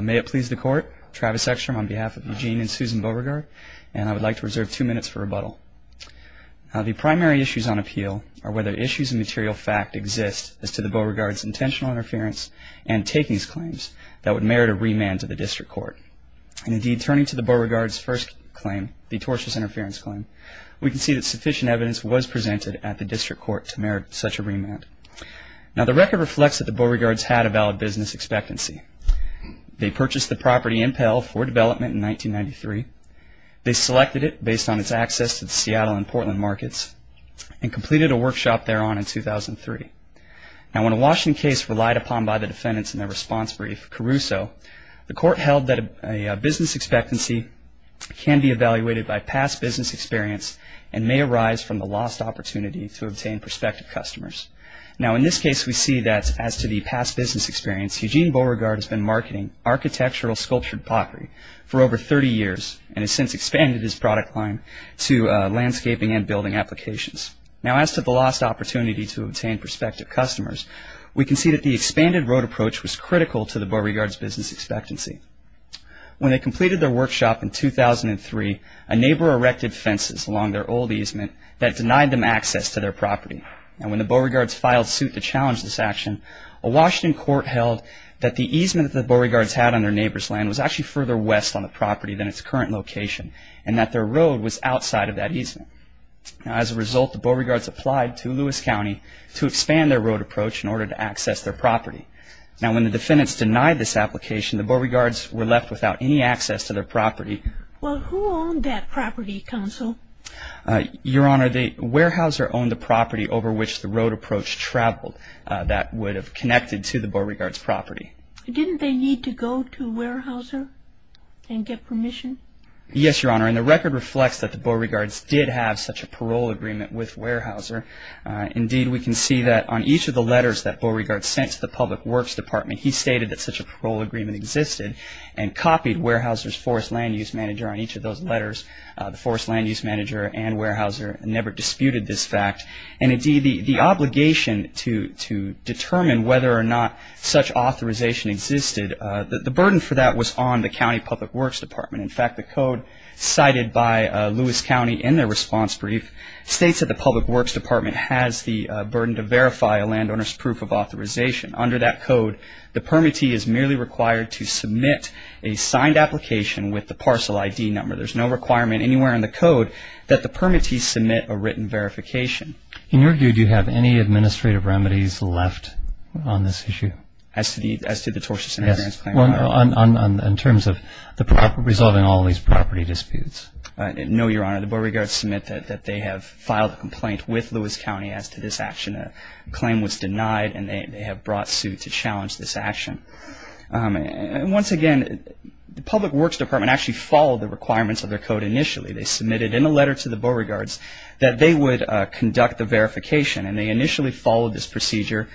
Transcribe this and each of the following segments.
May it please the Court, Travis Eckstrom on behalf of Eugene and Susan Beauregard, and I would like to reserve two minutes for rebuttal. The primary issues on appeal are whether issues of material fact exist as to the Beauregard's intentional interference and takings claims that would merit a remand to the District Court. Indeed, turning to the Beauregard's first claim, the tortious interference claim, we can see that sufficient evidence was presented at the District Court to merit such a remand. Now, the record reflects that the Beauregard's had a valid business expectancy. They purchased the property in Pell for development in 1993. They selected it based on its access to the Seattle and Portland markets and completed a workshop thereon in 2003. Now, when a Washington case relied upon by the defendants in their response brief, Caruso, the Court held that a business expectancy can be evaluated by past business experience and may arise from the lost opportunity to obtain prospective customers. Now, in this case, we see that as to the past business experience, Eugene Beauregard has been marketing architectural sculptured pottery for over 30 years and has since expanded his product line to landscaping and building applications. Now, as to the lost opportunity to obtain prospective customers, we can see that the expanded road approach was critical to the Beauregard's business expectancy. When they completed their workshop in 2003, a neighbor erected fences along their old easement that denied them access to their property. Now, when the Beauregard's filed suit to challenge this action, a Washington court held that the easement that the Beauregard's had on their neighbor's land was actually further west on the property than its current location and that their road was outside of that easement. Now, as a result, the Beauregard's applied to Lewis County to expand their road approach in order to access their property. Now, when the defendants denied this application, the Beauregard's were left without any access to their property. Well, who owned that property, counsel? Your Honor, the Weyerhaeuser owned the property over which the road approach traveled that would have connected to the Beauregard's property. Didn't they need to go to Weyerhaeuser and get permission? Yes, Your Honor, and the record reflects that the Beauregard's did have such a parole agreement with Weyerhaeuser. Indeed, we can see that on each of the letters that Beauregard sent to the Public Works Department, he stated that such a parole agreement existed and copied Weyerhaeuser's forest land use manager on each of those letters. The forest land use manager and Weyerhaeuser never disputed this fact. And indeed, the obligation to determine whether or not such authorization existed, the burden for that was on the county Public Works Department. In fact, the code cited by Lewis County in their response brief states that the Public Works Department has the burden to verify a landowner's proof of authorization. Under that code, the permittee is merely required to submit a signed application with the parcel ID number. There's no requirement anywhere in the code that the permittees submit a written verification. In your view, do you have any administrative remedies left on this issue? As to the tortious inheritance claim? Yes, in terms of resolving all these property disputes. No, Your Honor. The Beauregards submit that they have filed a complaint with Lewis County as to this action. A claim was denied and they have brought suit to challenge this action. And once again, the Public Works Department actually followed the requirements of their code initially. They submitted in a letter to the Beauregards that they would conduct the verification. And they initially followed this procedure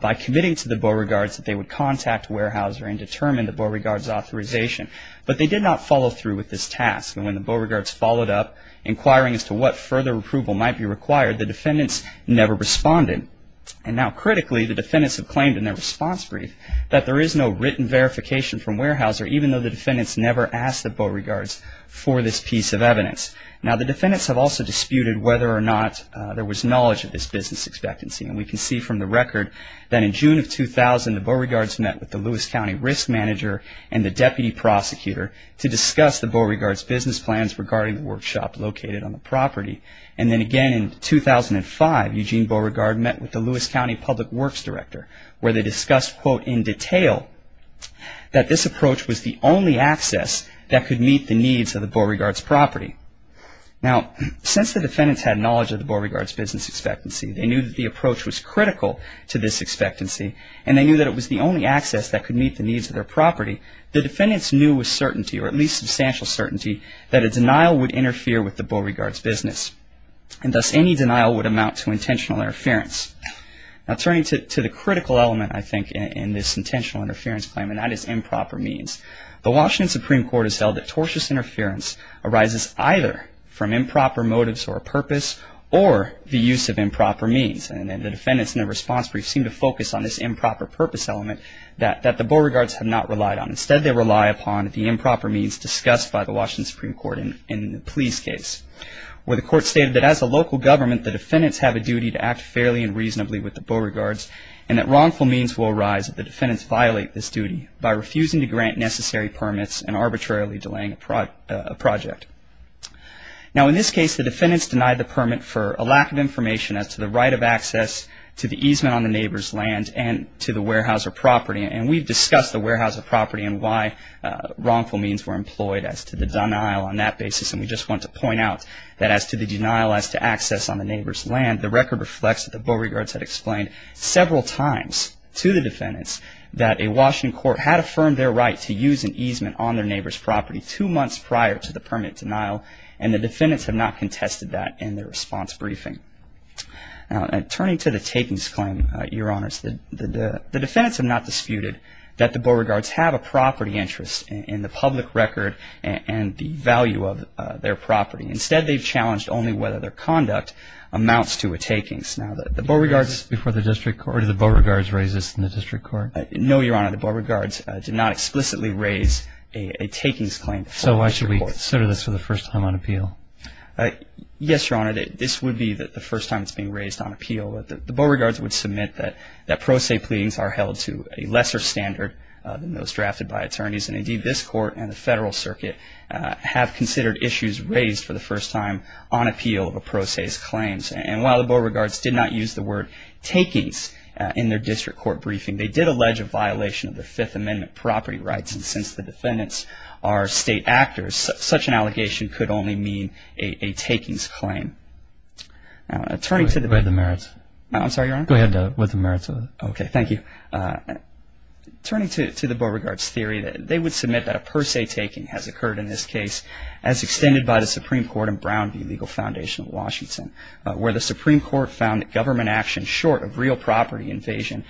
by committing to the Beauregards that they would contact Weyerhaeuser and determine the Beauregards' authorization. But they did not follow through with this task. And when the Beauregards followed up inquiring as to what further approval might be required, the defendants never responded. And now critically, the defendants have claimed in their response brief that there is no written verification from Weyerhaeuser, even though the defendants never asked the Beauregards for this piece of evidence. Now, the defendants have also disputed whether or not there was knowledge of this business expectancy. And we can see from the record that in June of 2000, the Beauregards met with the Lewis County Risk Manager and the Deputy Prosecutor to discuss the Beauregards' business plans regarding the workshop located on the property. And then again in 2005, Eugene Beauregard met with the Lewis County Public Works Director where they discussed, quote, in detail that this approach was the only access that could meet the needs of the Beauregards' property. Now, since the defendants had knowledge of the Beauregards' business expectancy, they knew that the approach was critical to this expectancy, and they knew that it was the only access that could meet the needs of their property, the defendants knew with certainty, or at least substantial certainty, that a denial would interfere with the Beauregards' business, and thus any denial would amount to intentional interference. Now, turning to the critical element, I think, in this intentional interference claim, and that is improper means, the Washington Supreme Court has held that tortious interference arises either from improper motives or purpose or the use of improper means. And the defendants in their response brief seem to focus on this improper purpose element that the Beauregards have not relied on. Instead, they rely upon the improper means discussed by the Washington Supreme Court in the Pleas case where the court stated that as a local government, the defendants have a duty to act fairly and reasonably with the Beauregards and that wrongful means will arise if the defendants violate this duty by refusing to grant necessary permits and arbitrarily delaying a project. Now, in this case, the defendants denied the permit for a lack of information as to the right of access to the easement on the neighbor's land and to the warehouse or property. And we've discussed the warehouse or property and why wrongful means were employed as to the denial on that basis. And we just want to point out that as to the denial as to access on the neighbor's land, the record reflects that the Beauregards had explained several times to the defendants that a Washington court had affirmed their right to use an easement on their neighbor's property two months prior to the permit denial, and the defendants have not contested that in their response briefing. Now, turning to the takings claim, Your Honors, the defendants have not disputed that the Beauregards have a property interest in the public record and the value of their property. Instead, they've challenged only whether their conduct amounts to a takings. Now, the Beauregards... Before the district court, did the Beauregards raise this in the district court? No, Your Honor, the Beauregards did not explicitly raise a takings claim. So why should we consider this for the first time on appeal? Yes, Your Honor, this would be the first time it's being raised on appeal. The Beauregards would submit that pro se pleadings are held to a lesser standard than those drafted by attorneys, and indeed this court and the federal circuit have considered issues raised for the first time on appeal of a pro se's claims. And while the Beauregards did not use the word takings in their district court briefing, they did allege a violation of the Fifth Amendment property rights, and since the defendants are state actors, such an allegation could only mean a takings claim. Turning to the... Go ahead with the merits. I'm sorry, Your Honor? Go ahead with the merits. Okay, thank you. Turning to the Beauregards' theory, they would submit that a pro se taking has occurred in this case as extended by the Supreme Court and Brown v. Legal Foundation of Washington, where the Supreme Court found that government action short of real property invasion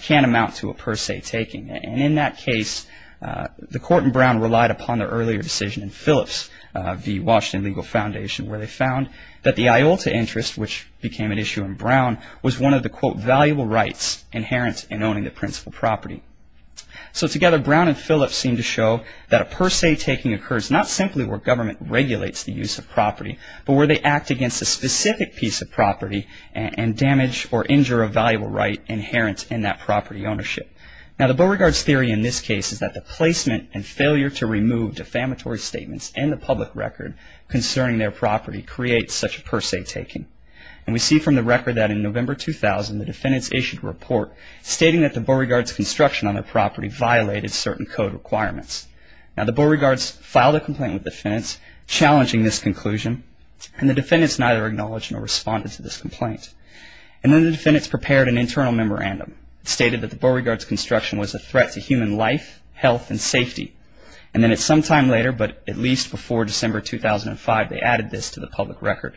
can't amount to a pro se taking. And in that case, the court and Brown relied upon their earlier decision in Phillips v. Washington Legal Foundation, where they found that the Iolta interest, which became an issue in Brown, was one of the, quote, valuable rights inherent in owning the principal property. So together, Brown and Phillips seemed to show that a pro se taking occurs not simply where government regulates the use of property, but where they act against a specific piece of property and damage or injure a valuable right inherent in that property ownership. Now, the Beauregards' theory in this case is that the placement and failure to remove defamatory statements and the public record concerning their property creates such a pro se taking. And we see from the record that in November 2000, the defendants issued a report stating that the Beauregards' construction on their property violated certain code requirements. Now, the Beauregards filed a complaint with defendants challenging this conclusion, and the defendants neither acknowledged nor responded to this complaint. And then the defendants prepared an internal memorandum stating that the Beauregards' construction was a threat to human life, health, and safety. And then at some time later, but at least before December 2005, they added this to the public record.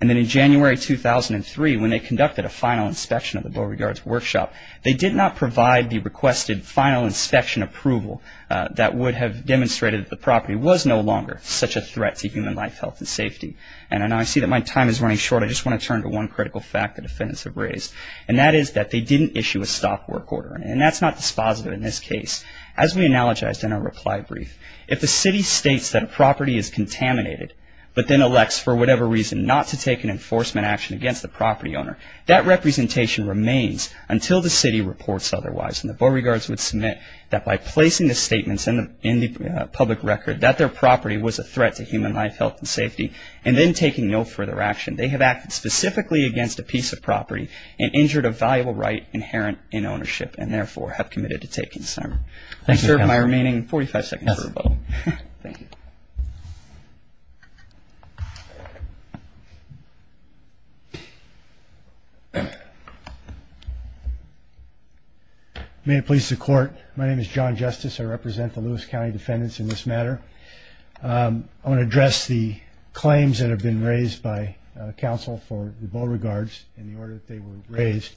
And then in January 2003, when they conducted a final inspection of the Beauregards' workshop, they did not provide the requested final inspection approval that would have demonstrated that the property was no longer such a threat to human life, health, and safety. And I see that my time is running short. I just want to turn to one critical fact the defendants have raised, and that is that they didn't issue a stop work order. And that's not dispositive in this case. As we analogized in our reply brief, if the city states that a property is contaminated, but then elects for whatever reason not to take an enforcement action against the property owner, that representation remains until the city reports otherwise. And the Beauregards would submit that by placing the statements in the public record that their property was a threat to human life, health, and safety, and then taking no further action, they have acted specifically against a piece of property and injured a valuable right inherent in ownership, and therefore have committed to take concern. I serve my remaining 45 seconds for a vote. Thank you. May it please the Court. My name is John Justice. I represent the Lewis County defendants in this matter. I want to address the claims that have been raised by counsel for the Beauregards in the order that they were raised.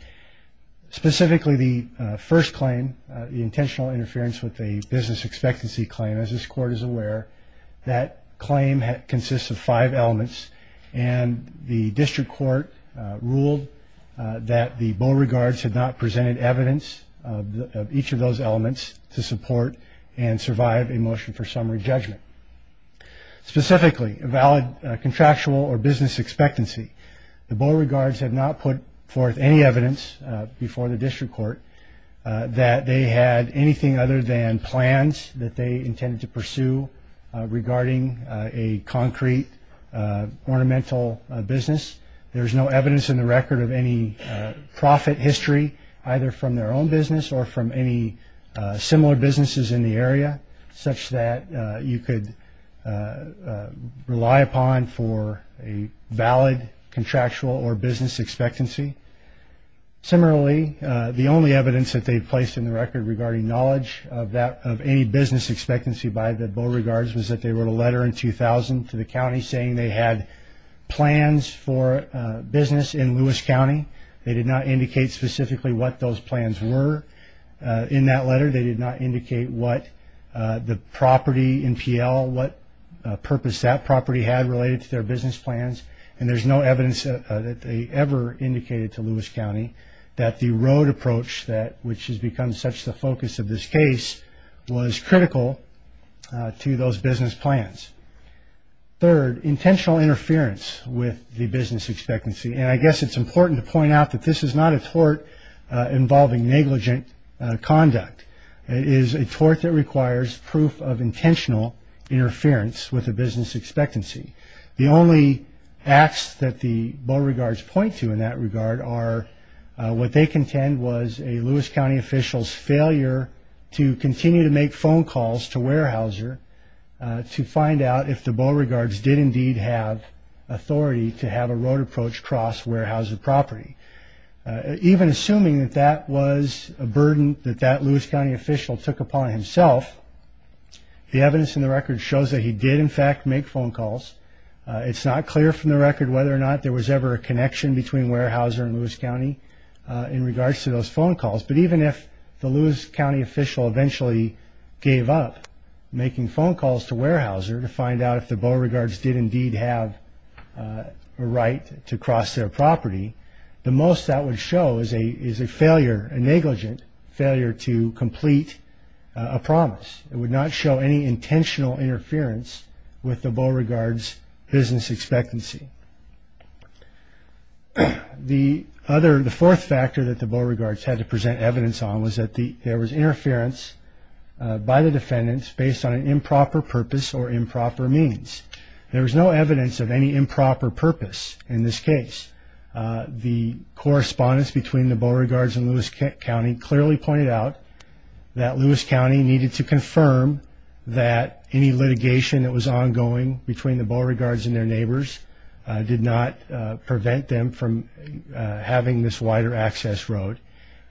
Specifically, the first claim, the intentional interference with a business expectancy claim. As this Court is aware, that claim consists of five elements, and the district court ruled that the Beauregards had not presented evidence of each of those elements to support and survive a motion for summary judgment. Specifically, a valid contractual or business expectancy. The Beauregards have not put forth any evidence before the district court that they had anything other than plans that they intended to pursue regarding a concrete ornamental business. There is no evidence in the record of any profit history, either from their own business or from any similar businesses in the area, such that you could rely upon for a valid contractual or business expectancy. Similarly, the only evidence that they placed in the record regarding knowledge of any business expectancy by the Beauregards was that they wrote a letter in 2000 to the county saying they had plans for business in Lewis County. They did not indicate specifically what those plans were in that letter. They did not indicate what the property in PL, what purpose that property had related to their business plans, and there's no evidence that they ever indicated to Lewis County that the road approach, which has become such the focus of this case, was critical to those business plans. Third, intentional interference with the business expectancy. I guess it's important to point out that this is not a tort involving negligent conduct. It is a tort that requires proof of intentional interference with the business expectancy. The only acts that the Beauregards point to in that regard are what they contend was a Lewis County official's failure to continue to make phone calls to Weyerhaeuser to find out if the Beauregards did indeed have authority to have a road approach cross Weyerhaeuser property. Even assuming that that was a burden that that Lewis County official took upon himself, the evidence in the record shows that he did in fact make phone calls. It's not clear from the record whether or not there was ever a connection between Weyerhaeuser and Lewis County in regards to those phone calls, but even if the Lewis County official eventually gave up making phone calls to Weyerhaeuser to find out if the Beauregards did indeed have a right to cross their property, the most that would show is a negligent failure to complete a promise. It would not show any intentional interference with the Beauregards' business expectancy. The fourth factor that the Beauregards had to present evidence on was that there was interference by the defendants based on improper purpose or improper means. There was no evidence of any improper purpose in this case. The correspondence between the Beauregards and Lewis County clearly pointed out that Lewis County needed to confirm that any litigation that was ongoing between the Beauregards and their neighbors did not prevent them from having this wider access road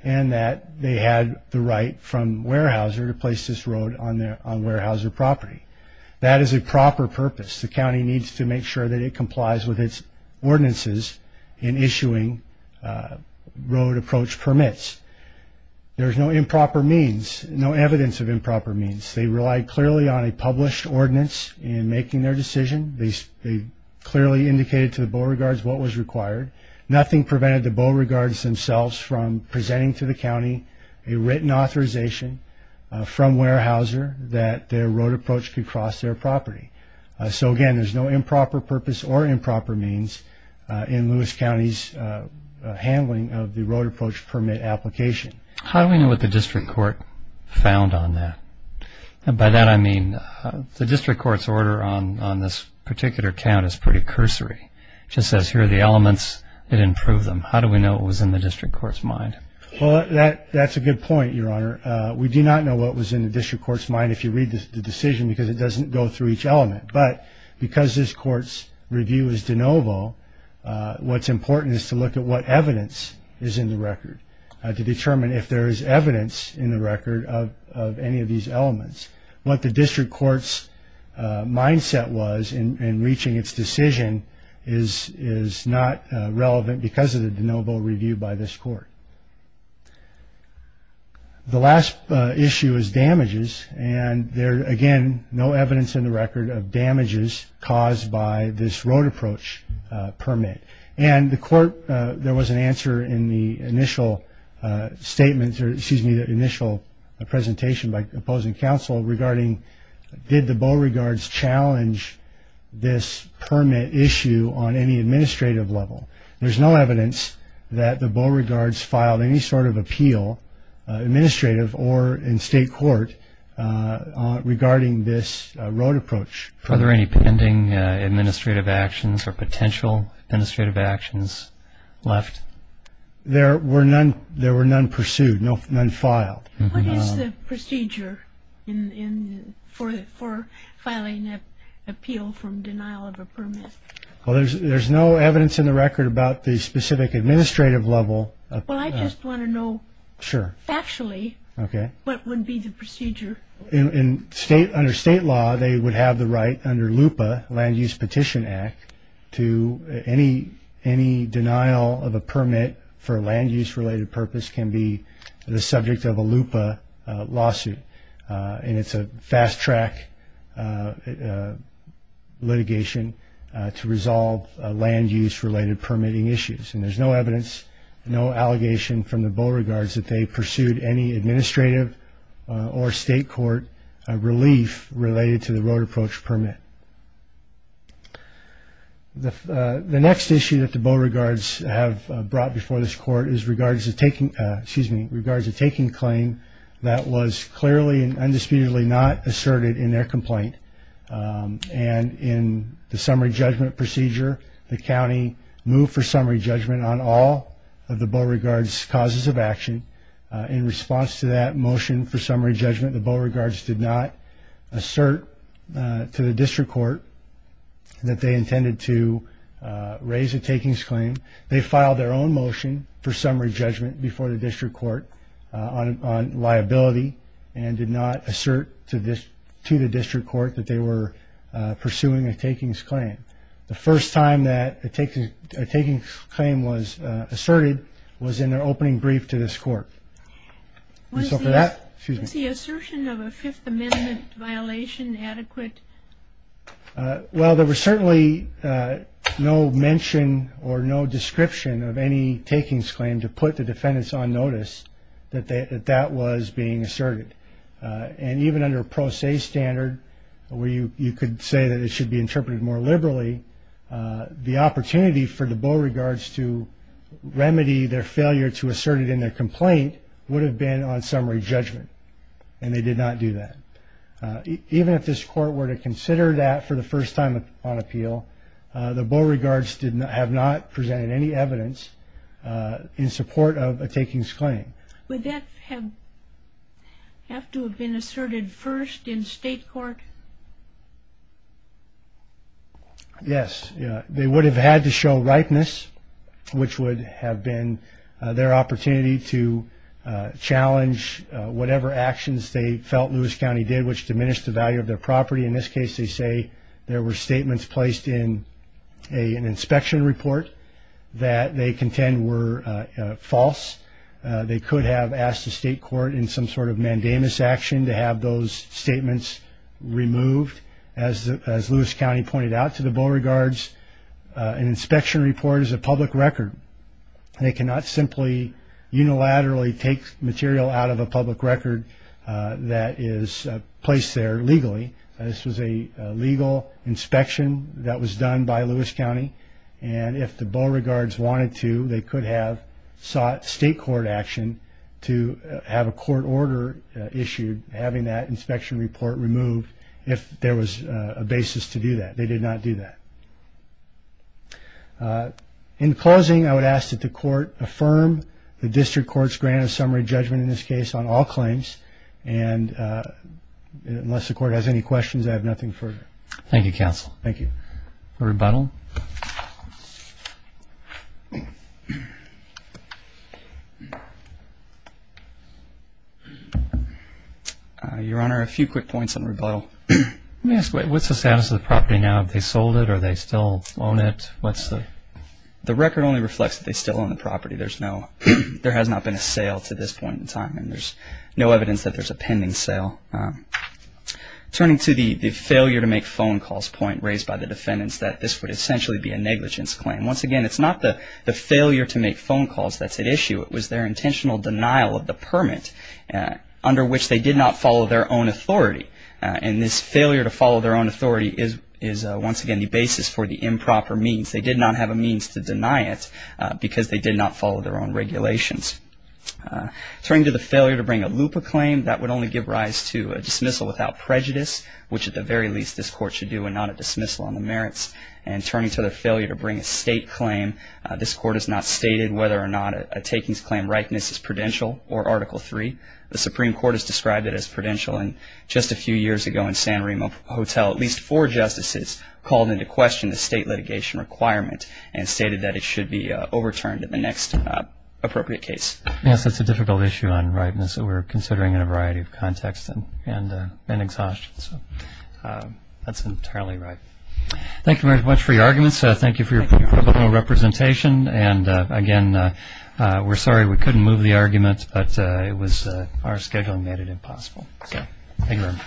and that they had the right from Weyerhaeuser to place this road on Weyerhaeuser property. That is a proper purpose. The county needs to make sure that it complies with its ordinances in issuing road approach permits. There's no improper means, no evidence of improper means. They relied clearly on a published ordinance in making their decision. They clearly indicated to the Beauregards what was required. Nothing prevented the Beauregards themselves from presenting to the county a written authorization from Weyerhaeuser that their road approach could cross their property. So again, there's no improper purpose or improper means in Lewis County's handling of the road approach permit application. How do we know what the district court found on that? By that I mean the district court's order on this particular count is pretty cursory. It just says here are the elements. It didn't prove them. How do we know what was in the district court's mind? Well, that's a good point, Your Honor. We do not know what was in the district court's mind if you read the decision because it doesn't go through each element. But because this court's review is de novo, what's important is to look at what evidence is in the record to determine if there is evidence in the record of any of these elements. What the district court's mindset was in reaching its decision is not relevant because of the de novo review by this court. The last issue is damages. And there, again, no evidence in the record of damages caused by this road approach permit. And the court, there was an answer in the initial presentation by opposing counsel regarding did the Beauregards challenge this permit issue on any administrative level. There's no evidence that the Beauregards filed any sort of appeal, administrative or in state court, regarding this road approach. Are there any pending administrative actions or potential administrative actions left? There were none pursued, none filed. What is the procedure for filing an appeal from denial of a permit? Well, there's no evidence in the record about the specific administrative level. Well, I just want to know factually what would be the procedure. Under state law, they would have the right under LUPA, Land Use Petition Act, to any denial of a permit for a land use related purpose can be the subject of a LUPA lawsuit. And it's a fast track litigation to resolve land use related permitting issues. And there's no evidence, no allegation from the Beauregards that they pursued any administrative or state court relief related to the road approach permit. The next issue that the Beauregards have brought before this court is regards to taking claim that was clearly and undisputedly not asserted in their complaint. And in the summary judgment procedure, the county moved for summary judgment on all of the Beauregards' causes of action. In response to that motion for summary judgment, the Beauregards did not assert to the district court that they intended to raise a takings claim. They filed their own motion for summary judgment before the district court on liability and did not assert to the district court that they were pursuing a takings claim. The first time that a takings claim was asserted was in their opening brief to this court. Was the assertion of a Fifth Amendment violation adequate? Well, there was certainly no mention or no description of any takings claim to put the defendants on notice that that was being asserted. And even under a pro se standard where you could say that it should be interpreted more liberally, the opportunity for the Beauregards to remedy their failure to assert it in their complaint would have been on summary judgment, and they did not do that. Even if this court were to consider that for the first time on appeal, the Beauregards have not presented any evidence in support of a takings claim. Would that have to have been asserted first in state court? Yes, they would have had to show ripeness, which would have been their opportunity to challenge whatever actions they felt Lewis County did which diminished the value of their property. In this case, they say there were statements placed in an inspection report that they contend were false. They could have asked the state court in some sort of mandamus action to have those statements removed. As Lewis County pointed out to the Beauregards, an inspection report is a public record. They cannot simply unilaterally take material out of a public record that is placed there legally. This was a legal inspection that was done by Lewis County, and if the Beauregards wanted to, they could have sought state court action to have a court order issued having that inspection report removed if there was a basis to do that. They did not do that. In closing, I would ask that the court affirm the district court's grant of summary judgment in this case on all claims, and unless the court has any questions, I have nothing further. Thank you, counsel. Thank you. Rebuttal. Your Honor, a few quick points on rebuttal. Let me ask, what's the status of the property now? Have they sold it? Are they still on it? The record only reflects that they still own the property. There has not been a sale to this point in time, and there's no evidence that there's a pending sale. Turning to the failure to make phone calls point raised by the defendants, that this would essentially be a negligence claim. Once again, it's not the failure to make phone calls that's at issue. It was their intentional denial of the permit under which they did not follow their own authority, and this failure to follow their own authority is, once again, the basis for the improper means. They did not have a means to deny it because they did not follow their own regulations. Turning to the failure to bring a LUPA claim, that would only give rise to a dismissal without prejudice, which at the very least this court should do and not a dismissal on the merits. And turning to the failure to bring a state claim, this court has not stated whether or not a takings claim rightness is prudential or Article III. The Supreme Court has described it as prudential, and just a few years ago in San Remo Hotel, at least four justices called into question the state litigation requirement and stated that it should be overturned in the next appropriate case. Yes, that's a difficult issue on rightness that we're considering in a variety of contexts and exhaustion. That's entirely right. Thank you very much for your arguments. Thank you for your pre-tribal representation. And again, we're sorry we couldn't move the argument, but our scheduling made it impossible. Thank you very much.